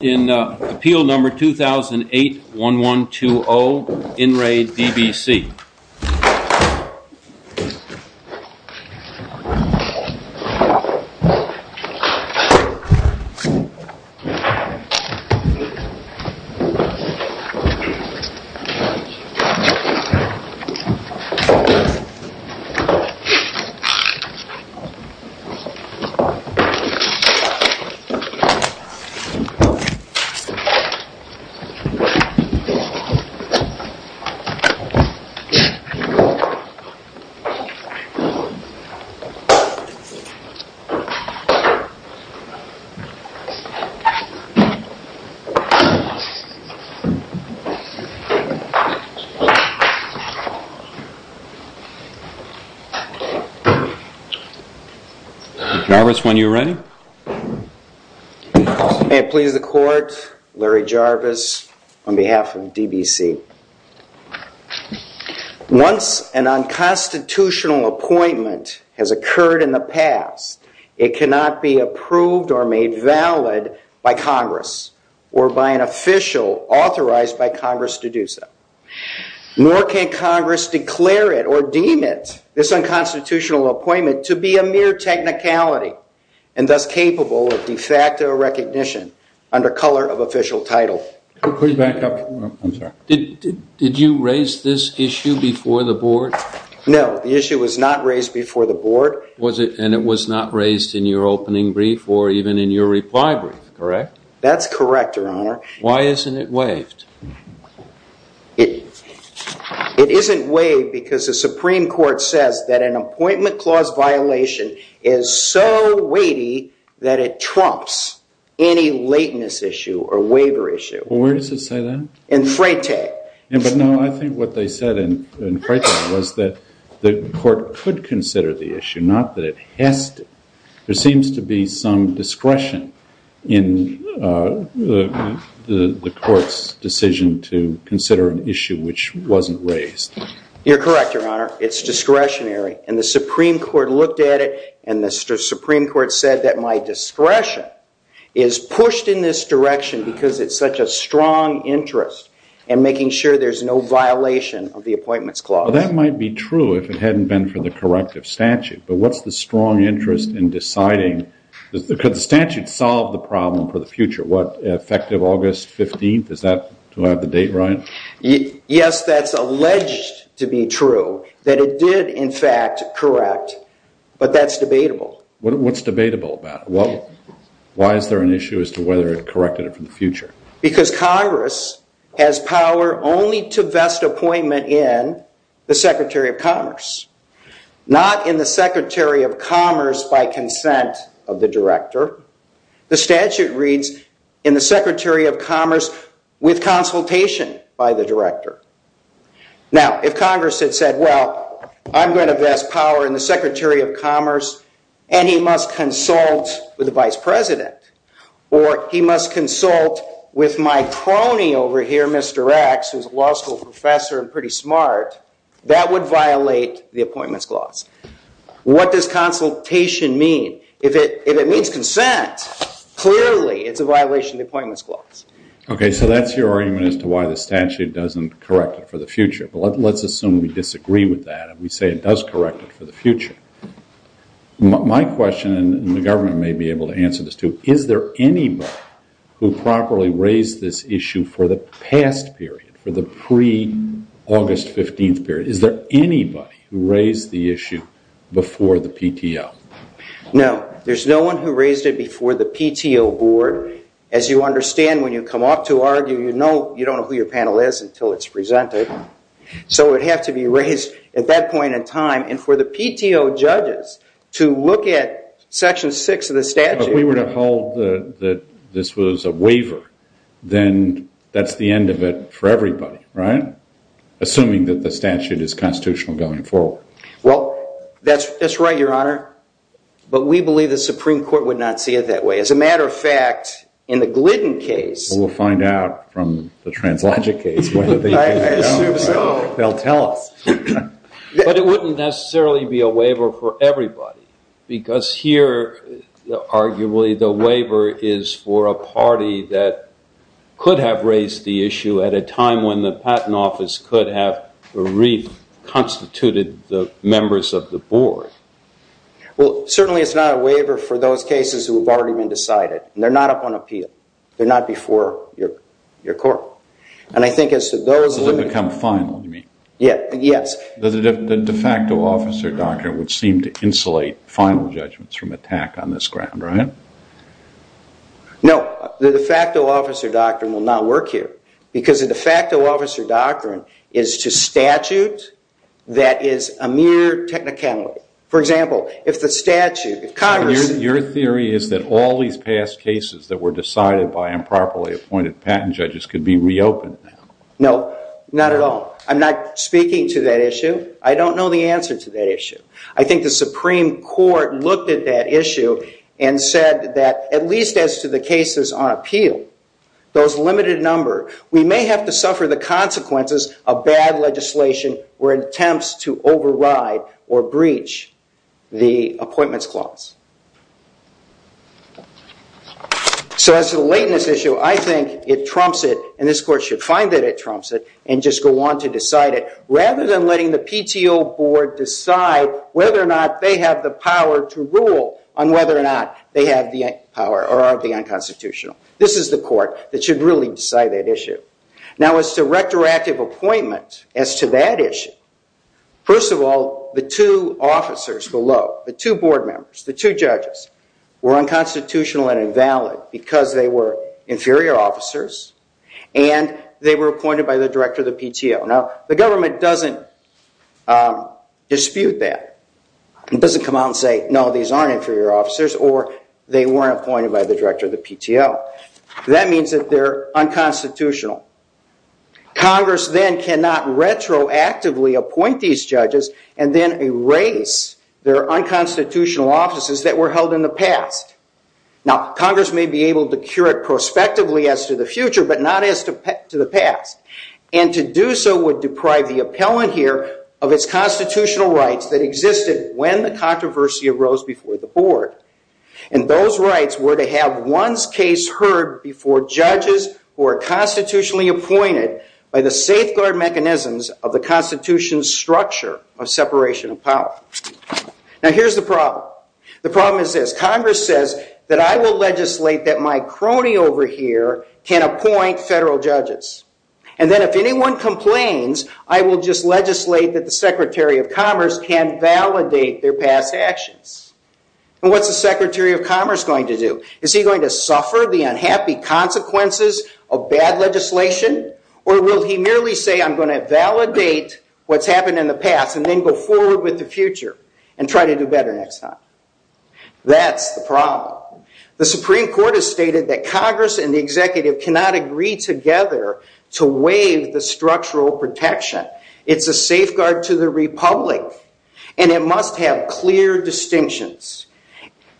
In Appeal Number 2008-1120, In Re DBC. Could members when you're ready? May it please the court, Larry Jarvis on behalf of DBC. Once an unconstitutional appointment has occurred in the past, it cannot be approved or made valid by Congress or by an official authorized by Congress to do so. Nor can Congress declare it or deem it, this unconstitutional appointment, to be a mere technicality and thus capable of de facto recognition under color of official title. Did you raise this issue before the board? No, the issue was not raised before the board. Was it and it was not raised in your opening brief or even in your reply brief, correct? That's correct, your honor. Why isn't it waived? It isn't waived because the Supreme Court says that an appointment clause violation is so weighty that it trumps any lateness issue or waiver issue. Well, where does it say that? In Freytag. But no, I think what they said in Freytag was that the court could consider the issue, not that it has to. There seems to be some discretion in the court's decision to consider an issue which wasn't raised. You're correct, your honor. It's discretionary. And the Supreme Court looked at it and the Supreme Court said that my discretion is pushed in this direction because it's such a strong interest in making sure there's no violation of the appointments clause. That might be true if it hadn't been for the corrective statute. But what's the strong interest in deciding? Could the statute solve the problem for the future? What, effective August 15th? Is that to have the date right? Yes, that's alleged to be true, that it did, in fact, correct. But that's debatable. What's debatable about it? Why is there an issue as to whether it corrected it for the future? Because Congress has power only to vest appointment in the Secretary of Commerce, not in the Secretary of Commerce by consent of the director. The statute reads, in the Secretary of Commerce with consultation by the director. Now, if Congress had said, well, I'm going to vest power in the Secretary of Commerce and he must consult with the vice president, or he must consult with my crony over here, Mr. X, who's a law school professor and pretty smart, that would violate the appointments clause. What does consultation mean? If it means consent, clearly it's a violation of the appointments clause. OK, so that's your argument as to why the statute doesn't correct it for the future. But let's assume we disagree with that and we say it does correct it for the future. My question, and the government may be able to answer this too, is there anybody who properly raised this issue for the past period, for the pre-August 15th period? Is there anybody who raised the issue before the PTO? No, there's no one who raised it before the PTO board. As you understand, when you come up to argue, you don't know who your panel is until it's presented. So it would have to be raised at that point in time. And for the PTO judges to look at section 6 of the statute. If we were to hold that this was a waiver, then that's the end of it for everybody, right? Assuming that the statute is constitutional going forward. Well, that's right, Your Honor. But we believe the Supreme Court would not see it that way. As a matter of fact, in the Glidden case. We'll find out from the translogic case whether they do or don't. They'll tell us. But it wouldn't necessarily be a waiver for everybody. Because here, arguably, the waiver is for a party that could have raised the issue at a time when the patent office could have reconstituted the members of the board. Well, certainly it's not a waiver for those cases who have already been decided. They're not up on appeal. They're not before your court. And I think as to those who become final, you mean? Yes. The de facto officer doctrine would seem to insulate final judgments from attack on this ground, right? No. The de facto officer doctrine will not work here. Because the de facto officer doctrine is to statute that is a mere technicality. For example, if the statute, if Congress Your theory is that all these past cases that were decided by improperly appointed patent judges could be reopened. No, not at all. I'm not speaking to that issue. I don't know the answer to that issue. I think the Supreme Court looked at that issue and said that at least as to the cases on appeal, those limited number, we may have to suffer the consequences of bad legislation or attempts to override or breach the appointments clause. So as to the lateness issue, I think it trumps it. And this court should find that it trumps it and just go on to decide it. Rather than letting the PTO board decide whether or not they have the power to rule on whether or not they have the power or are the unconstitutional. This is the court that should really decide that issue. Now, as to retroactive appointment as to that issue, first of all, the two officers below, the two board members, the two judges were unconstitutional and invalid because they were inferior officers and they were appointed by the director of the PTO. Now, the government doesn't dispute that. It doesn't come out and say, no, these aren't inferior officers or they weren't appointed by the director of the PTO. That means that they're unconstitutional. Congress then cannot retroactively appoint these judges and then erase their unconstitutional offices that were held in the past. Now, Congress may be able to cure it prospectively as to the future, but not as to the past. And to do so would deprive the appellant here of its constitutional rights that existed when the controversy arose before the board. And those rights were to have one's case heard before judges who are constitutionally appointed by the safeguard mechanisms of the Constitution's structure of separation of power. Now, here's the problem. The problem is this. Congress says that I will legislate that my crony over here can appoint federal judges. And then if anyone complains, I will just legislate that the Secretary of Commerce can validate their past actions. And what's the Secretary of Commerce going to do? Is he going to suffer the unhappy consequences of bad legislation, or will he merely say I'm going to validate what's happened in the past and then go forward with the future and try to do better next time? That's the problem. The Supreme Court has stated that Congress and the executive cannot agree together to waive the structural protection. It's a safeguard to the republic, and it must have clear distinctions.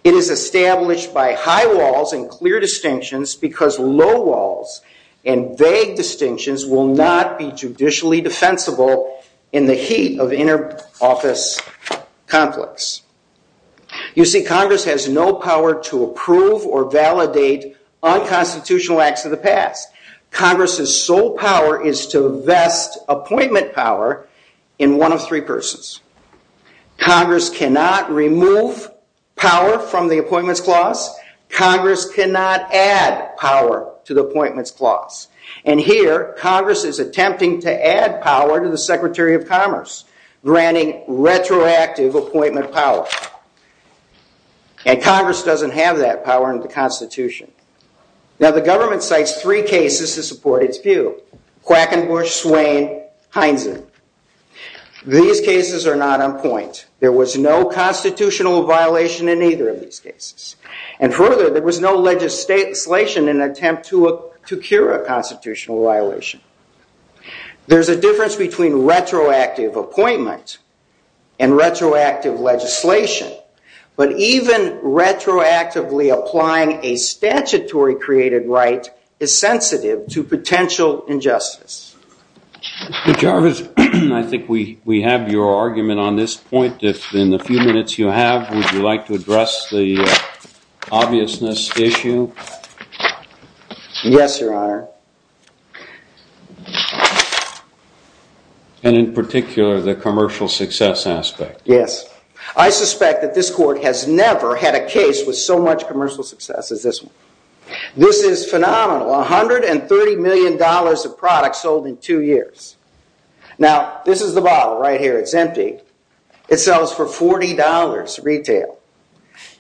It is established by high walls and clear distinctions because low walls and vague distinctions will not be judicially defensible in the heat of inner office conflicts. You see, Congress has no power to approve or validate unconstitutional acts of the past. Congress's sole power is to vest appointment power in one of three persons. Congress cannot remove power from the appointments clause. Congress cannot add power to the appointments clause. And here, Congress is attempting to add power to the Secretary of Commerce, granting retroactive appointment power. And Congress doesn't have that power in the Constitution. Now, the government cites three cases to support its view. Quackenbush, Swain, Heinzen. These cases are not on point. There was no constitutional violation in either of these cases. And further, there was no legislation in an attempt to cure a constitutional violation. There's a difference between retroactive appointment and retroactive legislation. But even retroactively applying a statutory created right is sensitive to potential injustice. Mr. Jarvis, I think we have your argument on this point. If in the few minutes you have, would you like to address the obviousness issue? Yes, Your Honor. And in particular, the commercial success aspect. Yes. I suspect that this court has never had a case with so much commercial success as this one. This is phenomenal. $130 million of products sold in two years. Now, this is the bottle right here. It's empty. It sells for $40 retail.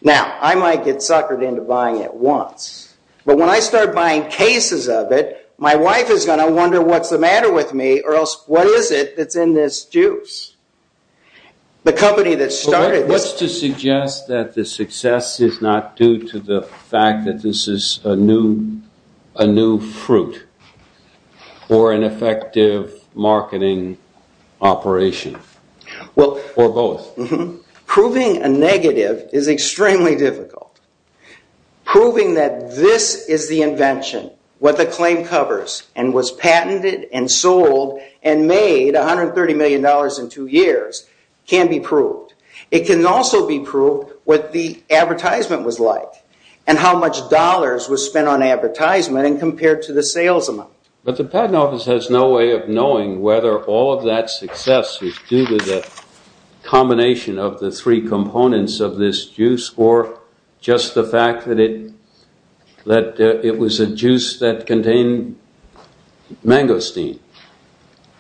Now, I might get suckered into buying it once. But when I start buying cases of it, my wife is going to wonder, what's the matter with me? Or else, what is it that's in this juice? The company that started this. What's to suggest that the success is not due to the fact that this is a new fruit or an effective marketing operation or both? Proving a negative is extremely difficult. Proving that this is the invention, what the claim covers, and was patented and sold and made $130 million in two years can be proved. It can also be proved what the advertisement was like and how much dollars was spent on advertisement and compared to the sales amount. But the patent office has no way of knowing whether all of that success is due to the combination of the three components of this juice or just the fact that it was a juice that contained mangosteen.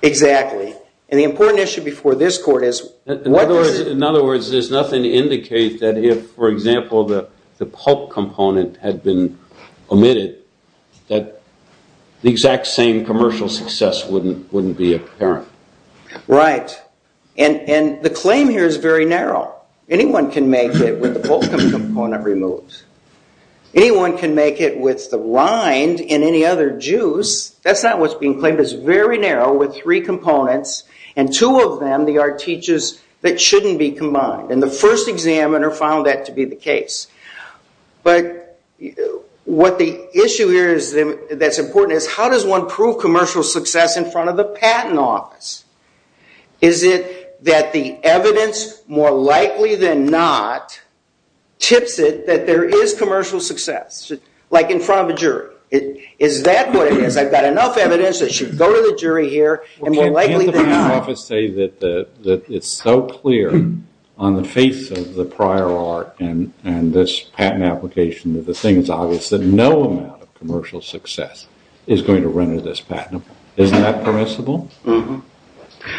Exactly. And the important issue before this court is, what is it? In other words, there's nothing to indicate that if, for example, the pulp component had been omitted, that the exact same commercial success wouldn't be apparent. Right. And the claim here is very narrow. Anyone can make it with the pulp component removed. Anyone can make it with the rind in any other juice. That's not what's being claimed. It's very narrow with three components. And two of them, they are teaches that shouldn't be combined. And the first examiner found that to be the case. But what the issue here that's important is, how does one prove commercial success in front of the patent office? Is it that the evidence, more likely than not, tips it that there is commercial success, like in front of a jury? Is that what it is? I've got enough evidence that should go to the jury here, and more likely than not. Can't the patent office say that it's so clear on the face of the prior art and this patent application that the thing is obvious that no amount of commercial success is going to render this patentable? Isn't that permissible?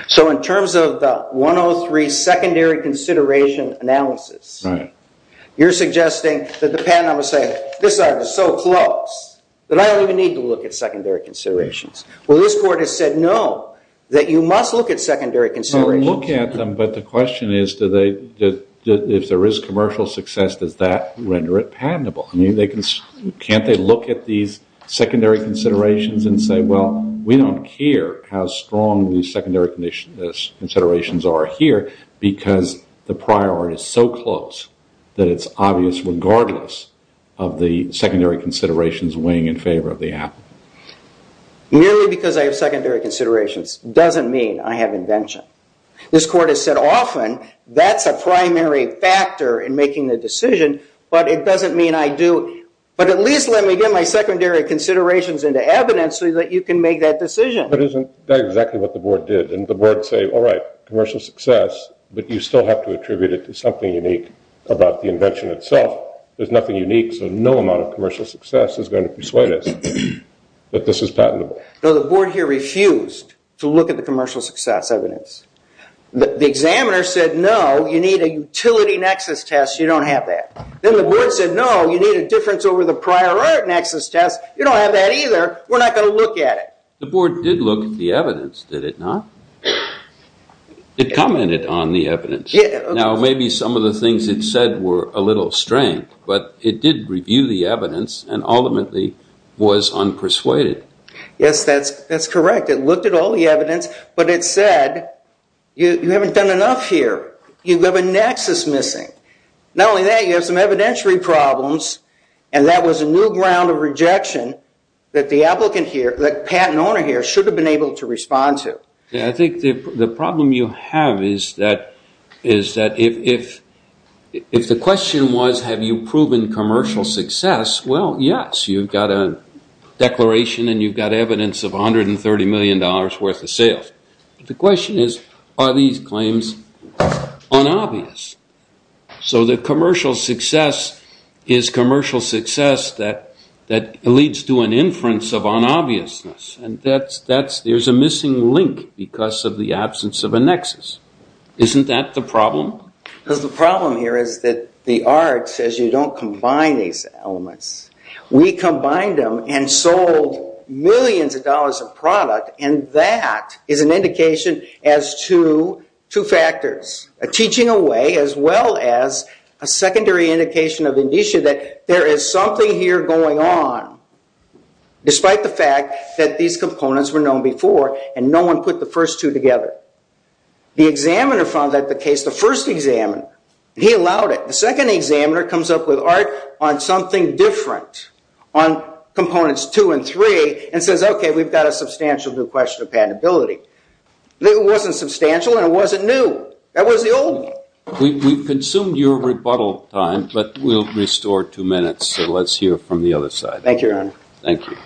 So in terms of the 103 secondary consideration analysis, you're suggesting that the patent office say, this art is so close that I don't even need to look at secondary considerations. Well, this court has said no, that you must look at secondary considerations. Look at them, but the question is, if there is commercial success, does that render it patentable? Can't they look at these secondary considerations and say, well, we don't care how strong these secondary considerations are here, because the prior art is so close that it's obvious regardless of the secondary considerations weighing in favor of the applicant? Merely because I have secondary considerations doesn't mean I have invention. This court has said often, that's a primary factor in making the decision, but it doesn't mean I do. But at least let me get my secondary considerations into evidence so that you can make that decision. But isn't that exactly what the board did? And the board say, all right, commercial success, but you still have to attribute it to something unique about the invention itself. There's nothing unique, so no amount of commercial success is going to persuade us that this is patentable. Though the board here refused to look at the commercial success evidence. The examiner said, no, you need a utility nexus test. You don't have that. Then the board said, no, you need a difference over the prior art nexus test. You don't have that either. We're not going to look at it. The board did look at the evidence, did it not? It commented on the evidence. Now, maybe some of the things it said were a little strange, but it did review the evidence and ultimately was unpersuaded. Yes, that's correct. It looked at all the evidence, but it said, you haven't done enough here. You have a nexus missing. Not only that, you have some evidentiary problems, and that was a new ground of rejection that the patent owner here should have been able to respond to. I think the problem you have is that if the question was, have you proven commercial success? Well, yes, you've got a declaration and you've got evidence of $130 million worth of sales. The question is, are these claims unobvious? So the commercial success is commercial success that leads to an inference of unobviousness, and there's a missing link because of the absence of a nexus. Isn't that the problem? Because the problem here is that the art says you don't combine these elements. We combined them and sold millions of dollars of product, and that is an indication as to two factors, a teaching away as well as a secondary indication of indicia that there is something here going on, despite the fact that these components were known before and no one put the first two together. The examiner found that the case, the first examiner, he allowed it. The second examiner comes up with art on something different, on components two and three, and says, OK, we've got a substantial new question of patentability. It wasn't substantial and it wasn't new. That was the old one. We've consumed your rebuttal time, but we'll restore two minutes. So let's hear from the other side. Thank you, Your Honor. Thank you.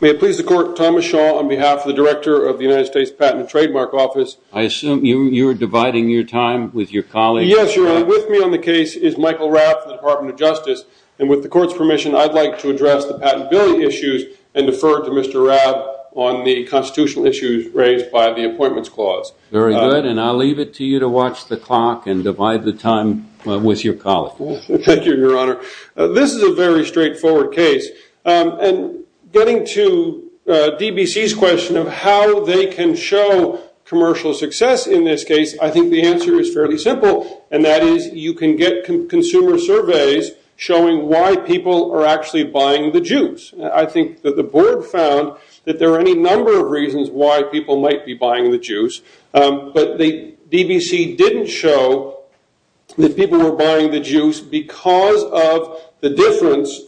May it please the court, Thomas Shaw on behalf of the director of the United States Patent and Trademark Office. I assume you're dividing your time with your colleagues. Yes, Your Honor. With me on the case is Michael Rapp from the Department of Justice. And with the court's permission, I'd like to address the patentability issues and defer to Mr. Rapp on the constitutional issues raised by the Appointments Clause. Very good. And I'll leave it to you to watch the clock and divide the time with your colleagues. Thank you, Your Honor. This is a very straightforward case. And getting to DBC's question of how they can show commercial success in this case, I think the answer is fairly simple. And that is you can get consumer surveys showing why people are actually buying the juice. I think that the board found that there are any number of reasons why people might be buying the juice. But the DBC didn't show that people were buying the juice because of the difference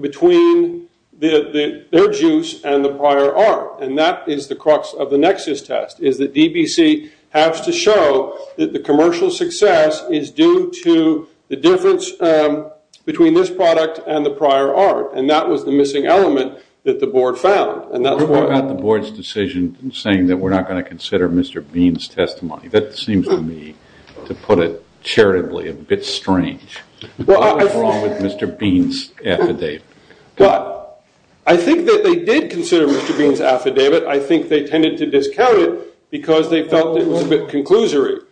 between their juice and the prior art. And that is the crux of the nexus test, is that DBC has to show that the commercial success is due to the difference between this product and the prior art. And that was the missing element that the board found. And that's why I'm at the board's decision saying that we're not going to consider Mr. Bean's testimony. That seems to me, to put it charitably, a bit strange. What is wrong with Mr. Bean's affidavit? But I think that they did consider Mr. Bean's affidavit. I think they tended to discount it because they felt it was a bit conclusory.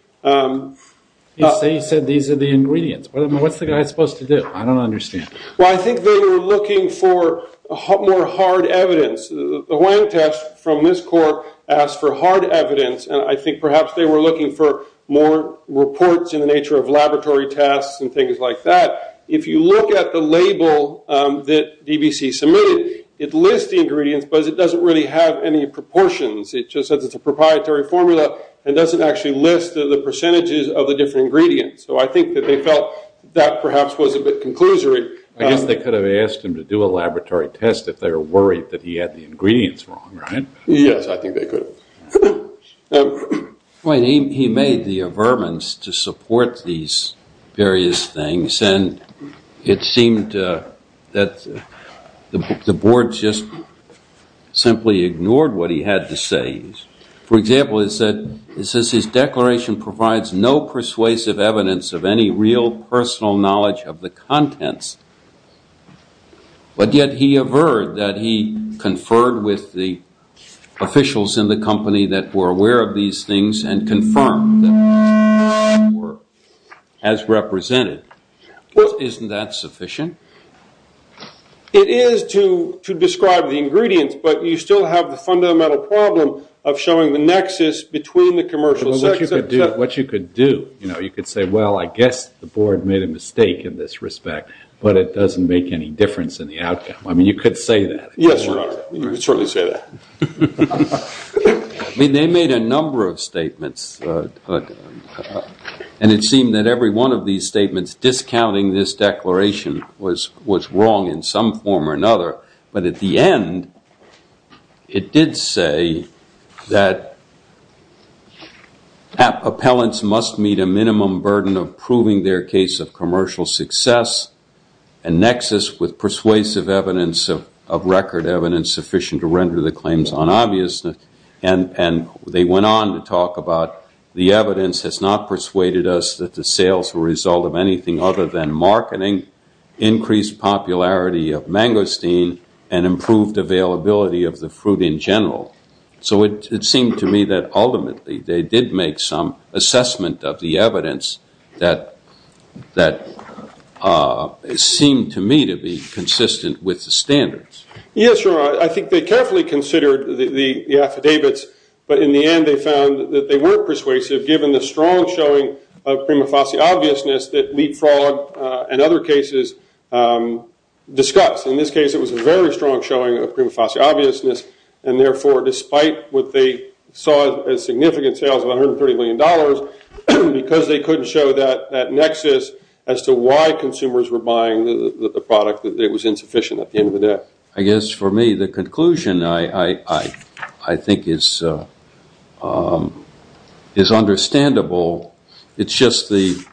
You say you said these are the ingredients. What's the guy supposed to do? I don't understand. Well, I think they were looking for more hard evidence. The Huang test from this court asked for hard evidence. And I think perhaps they were looking for more reports in the nature of laboratory tests and things like that. If you look at the label that DBC submitted, it lists the ingredients, but it doesn't really have any proportions. It just says it's a proprietary formula and doesn't actually list the percentages of the different ingredients. So I think that they felt that perhaps was a bit conclusory. I guess they could have asked him to do a laboratory test if they were worried that he had the ingredients wrong, right? Yes, I think they could. He made the averments to support these various things. And it seemed that the board just simply ignored what he had to say. For example, it says his declaration provides no persuasive evidence of any real personal knowledge of the contents. But yet he averred that he conferred with the officials in the company that were aware of these things and confirmed that these things were as represented. Isn't that sufficient? It is to describe the ingredients, but you still have the fundamental problem of showing the nexus between the commercial sector. What you could do, you could say, well, I guess the board made a mistake in this respect, but it doesn't make any difference in the outcome. I mean, you could say that. Yes, Your Honor, you could certainly say that. They made a number of statements, and it seemed that every one of these statements discounting this declaration was wrong in some form or another. But at the end, it did say that appellants must meet a minimum burden of proving their case of commercial success and nexus with persuasive evidence of record evidence sufficient to render the claims unobvious. And they went on to talk about the evidence has not persuaded us that the sales were a result of anything other than marketing, increased popularity of mangosteen, and improved availability of the fruit in general. So it seemed to me that ultimately, they did make some assessment of the evidence that seemed to me to be consistent with the standards. Yes, Your Honor, I think they carefully considered the affidavits, but in the end, they found that they were persuasive given the strong showing of prima facie obviousness that Leapfrog and other cases discussed. In this case, it was a very strong showing of prima facie obviousness. And therefore, despite what they saw as significant sales of $130 million, because they couldn't show that nexus as to why consumers were buying the product, it was insufficient at the end of the day. I guess for me, the conclusion I think is understandable. It's just the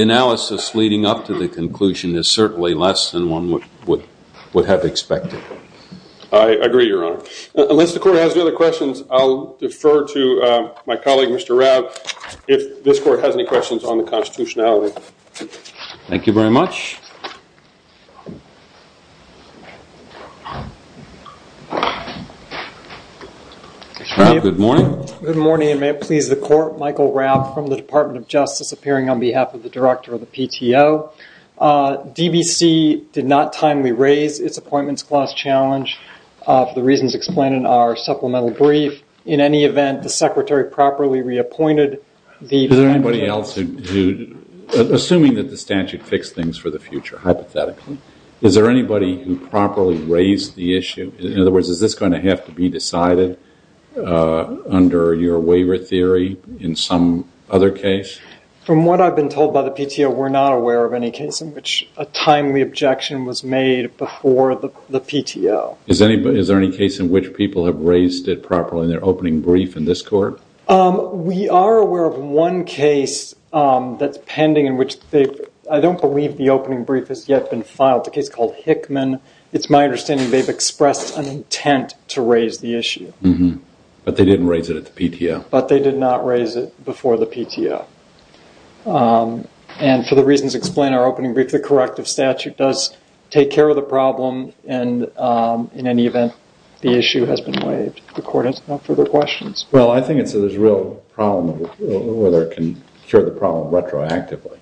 analysis leading up to the conclusion is certainly less than one would have expected. I agree, Your Honor. Unless the court has no other questions, I'll defer to my colleague, Mr. Rapp, if this court has any questions on the constitutionality. Thank you very much. Good morning. Good morning, and may it please the court, Michael Rapp from the Department of Justice appearing on behalf of the director of the PTO. DBC did not timely raise its appointments clause challenge for the reasons explained in our supplemental brief. In any event, the secretary properly reappointed the Is there anybody else who, assuming that the statute fixed things for the future, hypothetically, is there anybody who properly raised the issue? In other words, is this going to have to be decided under your waiver theory in some other case? From what I've been told by the PTO, we're not aware of any case in which a timely objection was made before the PTO. Is there any case in which people have raised it properly in their opening brief in this court? We are aware of one case that's pending in which they've, I don't believe the opening brief has yet been filed, the case called Hickman. It's my understanding they've expressed an intent to raise the issue. But they didn't raise it at the PTO. But they did not raise it before the PTO. And for the reasons explained in our opening brief, the corrective statute does take care of the problem. And in any event, the issue has been waived. The court has no further questions. Well, I think it's a real problem whether it can cure the problem retroactively.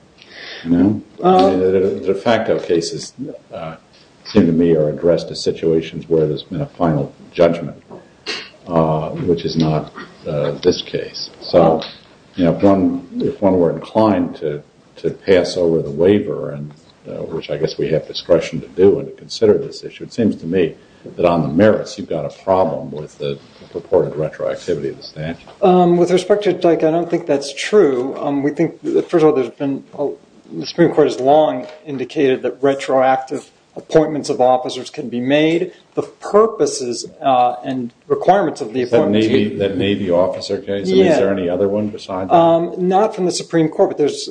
De facto cases seem to me are addressed to situations where there's been a final judgment, which is not this case. So if one were inclined to pass over the waiver, which I guess we have discretion to do and to consider this issue, it seems to me that on the merits, you've got a problem with the purported retroactivity of the statute. With respect to Dyke, I don't think that's true. We think, first of all, the Supreme Court has long indicated that retroactive appointments of officers can be made. The purposes and requirements of the appointment Is that Navy officer case? I mean, is there any other one besides that? Not from the Supreme Court, but there's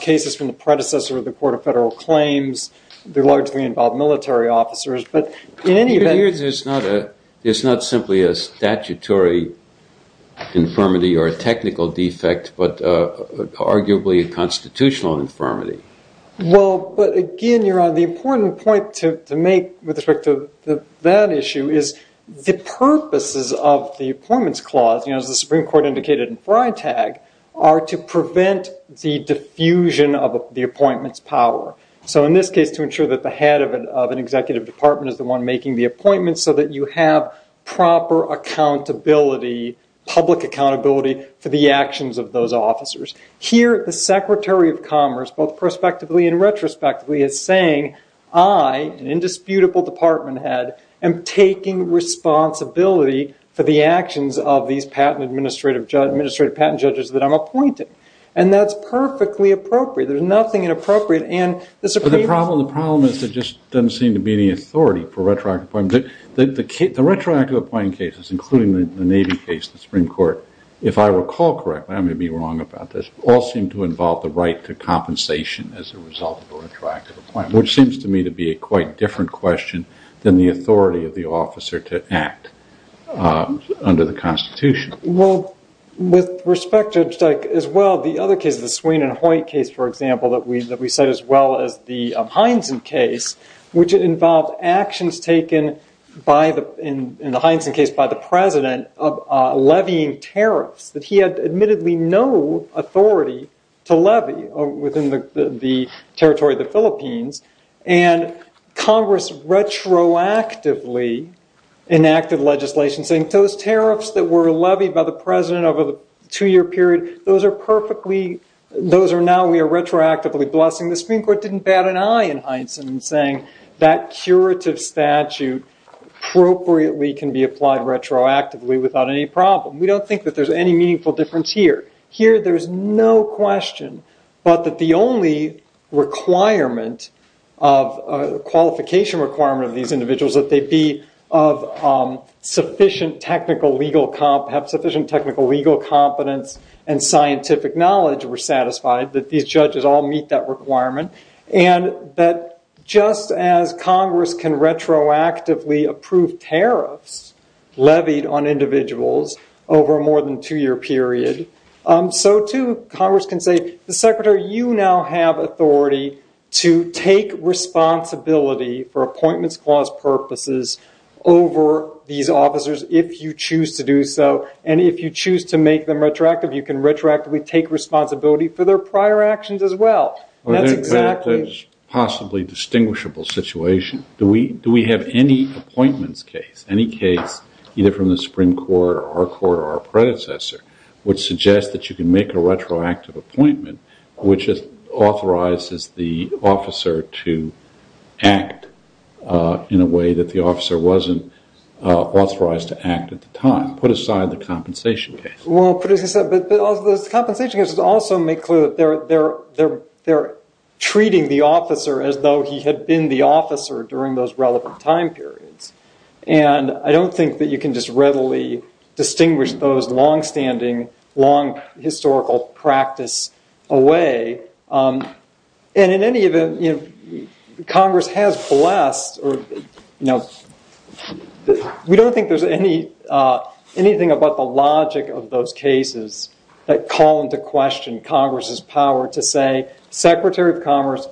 cases from the predecessor of the Court of Federal Claims. They largely involve military officers. But in any event, It appears there's not simply a statutory infirmity or a technical defect, but arguably a constitutional infirmity. Well, but again, you're on the important point with respect to that issue is the purposes of the Appointments Clause, as the Supreme Court indicated in Freitag, are to prevent the diffusion of the appointment's power. So in this case, to ensure that the head of an executive department is the one making the appointment so that you have proper accountability, public accountability, for the actions of those officers. Here, the Secretary of Commerce, both prospectively and retrospectively, is saying, I, an indisputable department head, am taking responsibility for the actions of these patent administrative judge, administrative patent judges that I'm appointed. And that's perfectly appropriate. There's nothing inappropriate. And the Supreme Court- The problem is there just doesn't seem to be any authority for retroactive appointments. The retroactive appointing cases, including the Navy case, the Supreme Court, if I recall correctly, I may be wrong about this, all seem to involve the right to compensation as a result of a retroactive appointment, which seems to me to be a quite different question than the authority of the officer to act under the Constitution. Well, with respect to, as well, the other cases, the Swain and Hoyt case, for example, that we said, as well as the Hyneson case, which involved actions taken in the Hyneson case by the president of levying tariffs that he had admittedly no authority to levy within the territory of the Philippines. And Congress retroactively enacted legislation saying, those tariffs that were levied by the president over the two-year period, those are perfectly- those are now we are retroactively blessing. The Supreme Court didn't bat an eye in Hyneson in saying that curative statute appropriately can be applied retroactively without any problem. We don't think that there's any meaningful difference here. Here, there is no question but that the only requirement of a qualification requirement of these individuals, that they be of sufficient technical legal comp- have sufficient technical legal competence and scientific knowledge were satisfied, that these judges all meet that requirement. And that just as Congress can retroactively approve tariffs levied on individuals over a more than two-year period, so too Congress can say, Mr. Secretary, you now have authority to take responsibility for appointments clause purposes over these officers if you choose to do so. And if you choose to make them retroactive, you can retroactively take responsibility for their prior actions as well. That's exactly- Possibly distinguishable situation. Do we have any appointments case, any case, either from the Supreme Court or our court or our predecessor, which suggests that you can make a retroactive appointment which authorizes the officer to act in a way that the officer wasn't authorized to act at the time? Put aside the compensation case. Well, but as you said, those compensation cases also make clear that they're treating the officer as though he had been the officer during those relevant time periods. And I don't think that you can just readily distinguish those long-standing, long historical practice away. And in any event, Congress has blessed or, you know, we don't think there's anything about the logic of those cases that call into question Congress's power to say, Secretary of Commerce,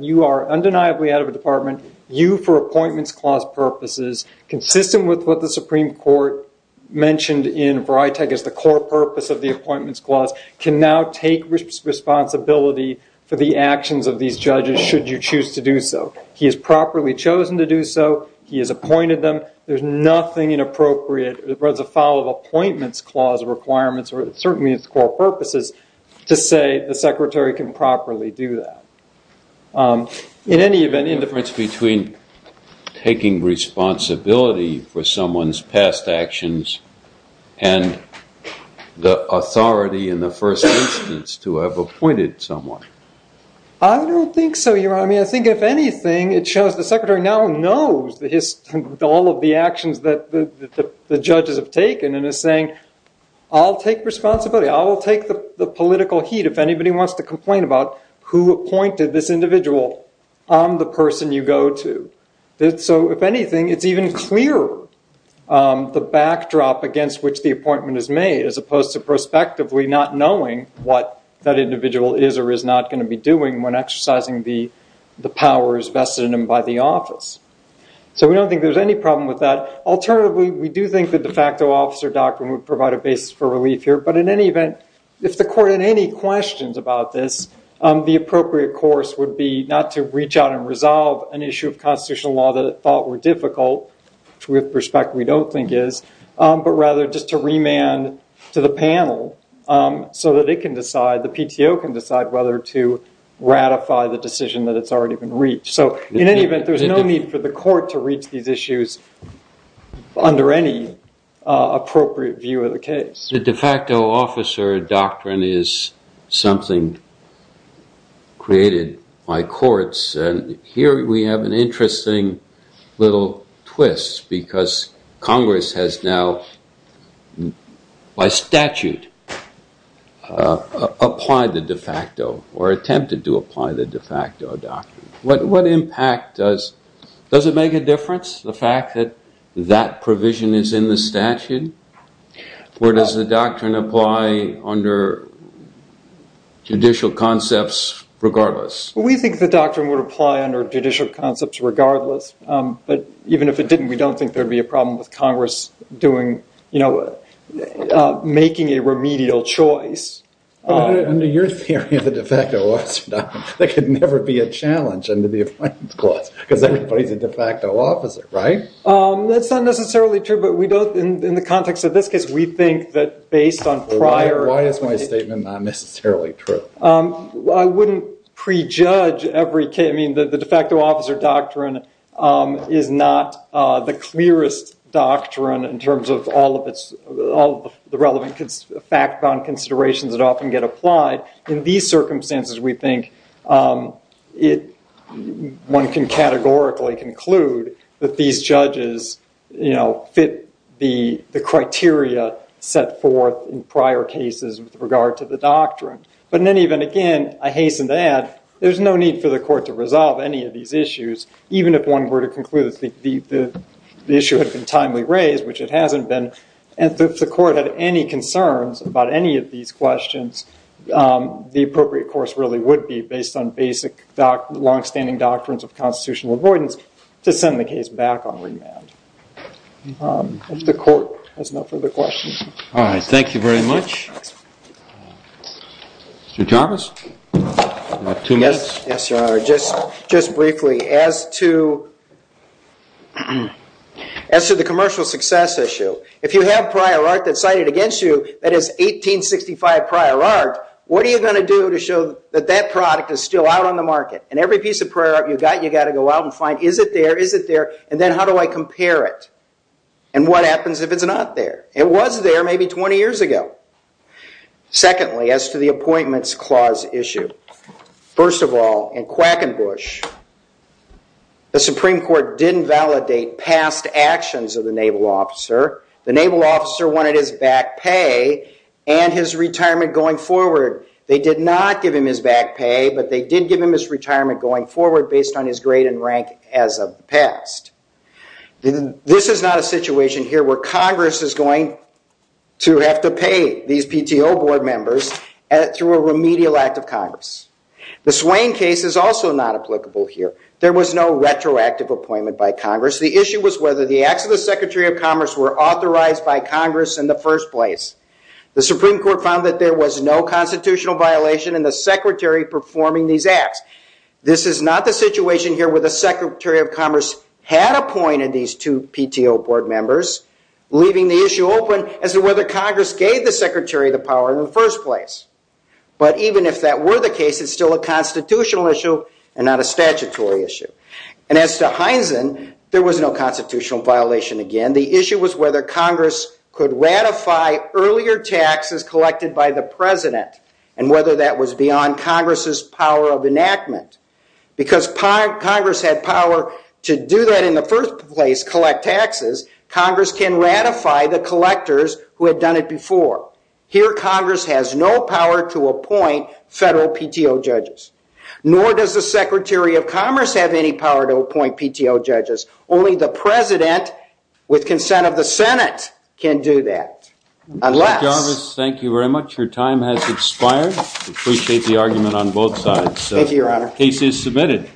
you are undeniably out of a department. You, for appointments clause purposes, consistent with what the Supreme Court mentioned in Vrijtec as the core purpose of the appointments clause, can now take responsibility for the actions of these judges should you choose to do so. He has properly chosen to do so. He has appointed them. There's nothing inappropriate as a follow-up appointments clause requirements or certainly its core purposes to say the secretary can properly do that. In any event, any difference between taking responsibility for someone's past actions and the authority in the first instance to have appointed someone? I don't think so, Your Honor. I mean, I think if anything, it shows the secretary now knows all of the actions that the judges have taken and is saying, I'll take responsibility. I will take the political heat if anybody wants to complain about who appointed this individual on the person you go to. So if anything, it's even clearer the backdrop against which the appointment is made, as opposed to prospectively not knowing what that individual is or is not going to be doing when exercising the powers vested in him by the office. So we don't think there's any problem with that. Alternatively, we do think the de facto officer doctrine would provide a basis for relief here. But in any event, if the court had any questions about this, the appropriate course would be not to reach out and resolve an issue of constitutional law that it thought were difficult, with respect we don't think is, but rather just to remand to the panel so that it can decide, the PTO can decide whether to ratify the decision that it's already been reached. So in any event, there's no need for the court to reach these issues under any appropriate view of the case. The de facto officer doctrine is something created by courts. And here we have an interesting little twist, because Congress has now, by statute, applied the de facto or attempted to apply the de facto doctrine. What impact does it make a difference, the fact that that provision is in the statute? Or does the doctrine apply under judicial concepts regardless? We think the doctrine would apply under judicial concepts regardless. But even if it didn't, we don't think there'd be a problem with Congress making a remedial choice. Under your theory of the de facto officer doctrine, there could never be a challenge under the Affinity Clause, because everybody's a de facto officer, right? That's not necessarily true. In the context of this case, we think that based on prior Why is my statement not necessarily true? I wouldn't prejudge every case. I mean, the de facto officer doctrine is not the clearest doctrine in terms of all of the relevant fact-bound considerations that often get applied. In these circumstances, we think one can categorically conclude that these judges fit the criteria set forth in prior cases with regard to the doctrine. But then even again, I hasten to add, there's no need for the court to resolve any of these issues, even if one were to conclude that the issue had been timely raised, which it hasn't been. And if the court had any concerns about any of these questions, the appropriate course really would be based on basic, longstanding doctrines of constitutional avoidance to send the case back on remand. If the court has no further questions. All right, thank you very much. Mr. Thomas, you have two minutes. Yes, Your Honor. Just briefly, as to the commercial success issue, if you have prior art that's cited against you that is 1865 prior art, what are you going to do to show that that product is still out on the market? And every piece of prior art you've got, you've got to go out and find, is it there, is it there? And then how do I compare it? And what happens if it's not there? It was there maybe 20 years ago. Secondly, as to the Appointments Clause issue, first of all, in Quackenbush, the Supreme Court didn't validate past actions of the Naval officer. The Naval officer wanted his back pay and his retirement going forward. They did not give him his back pay, but they did give him his retirement going forward based on his grade and rank as of the past. This is not a situation here where Congress is going to have to pay these PTO board members through a remedial act of Congress. The Swain case is also not applicable here. There was no retroactive appointment by Congress. The issue was whether the acts of the Secretary of Commerce were authorized by Congress in the first place. The Supreme Court found that there was no constitutional violation in the Secretary performing these acts. This is not the situation here where the Secretary of Commerce had appointed these two PTO board members, leaving the issue open as to whether Congress gave the Secretary the power in the first place. But even if that were the case, it's still a constitutional issue and not a statutory issue. And as to Heinzen, there was no constitutional violation again. The issue was whether Congress could ratify earlier taxes collected by the President and whether that was beyond Congress's power of enactment. Because Congress had power to do that in the first place, collect taxes, Congress can ratify the collectors who had done it before. Here, Congress has no power to appoint federal PTO judges. Nor does the Secretary of Commerce have any power to appoint PTO judges. Only the President, with consent of the Senate, can do that. Unless. Mr. Jarvis, thank you very much. Your time has expired. Appreciate the argument on both sides. Thank you, Your Honor. Case is submitted.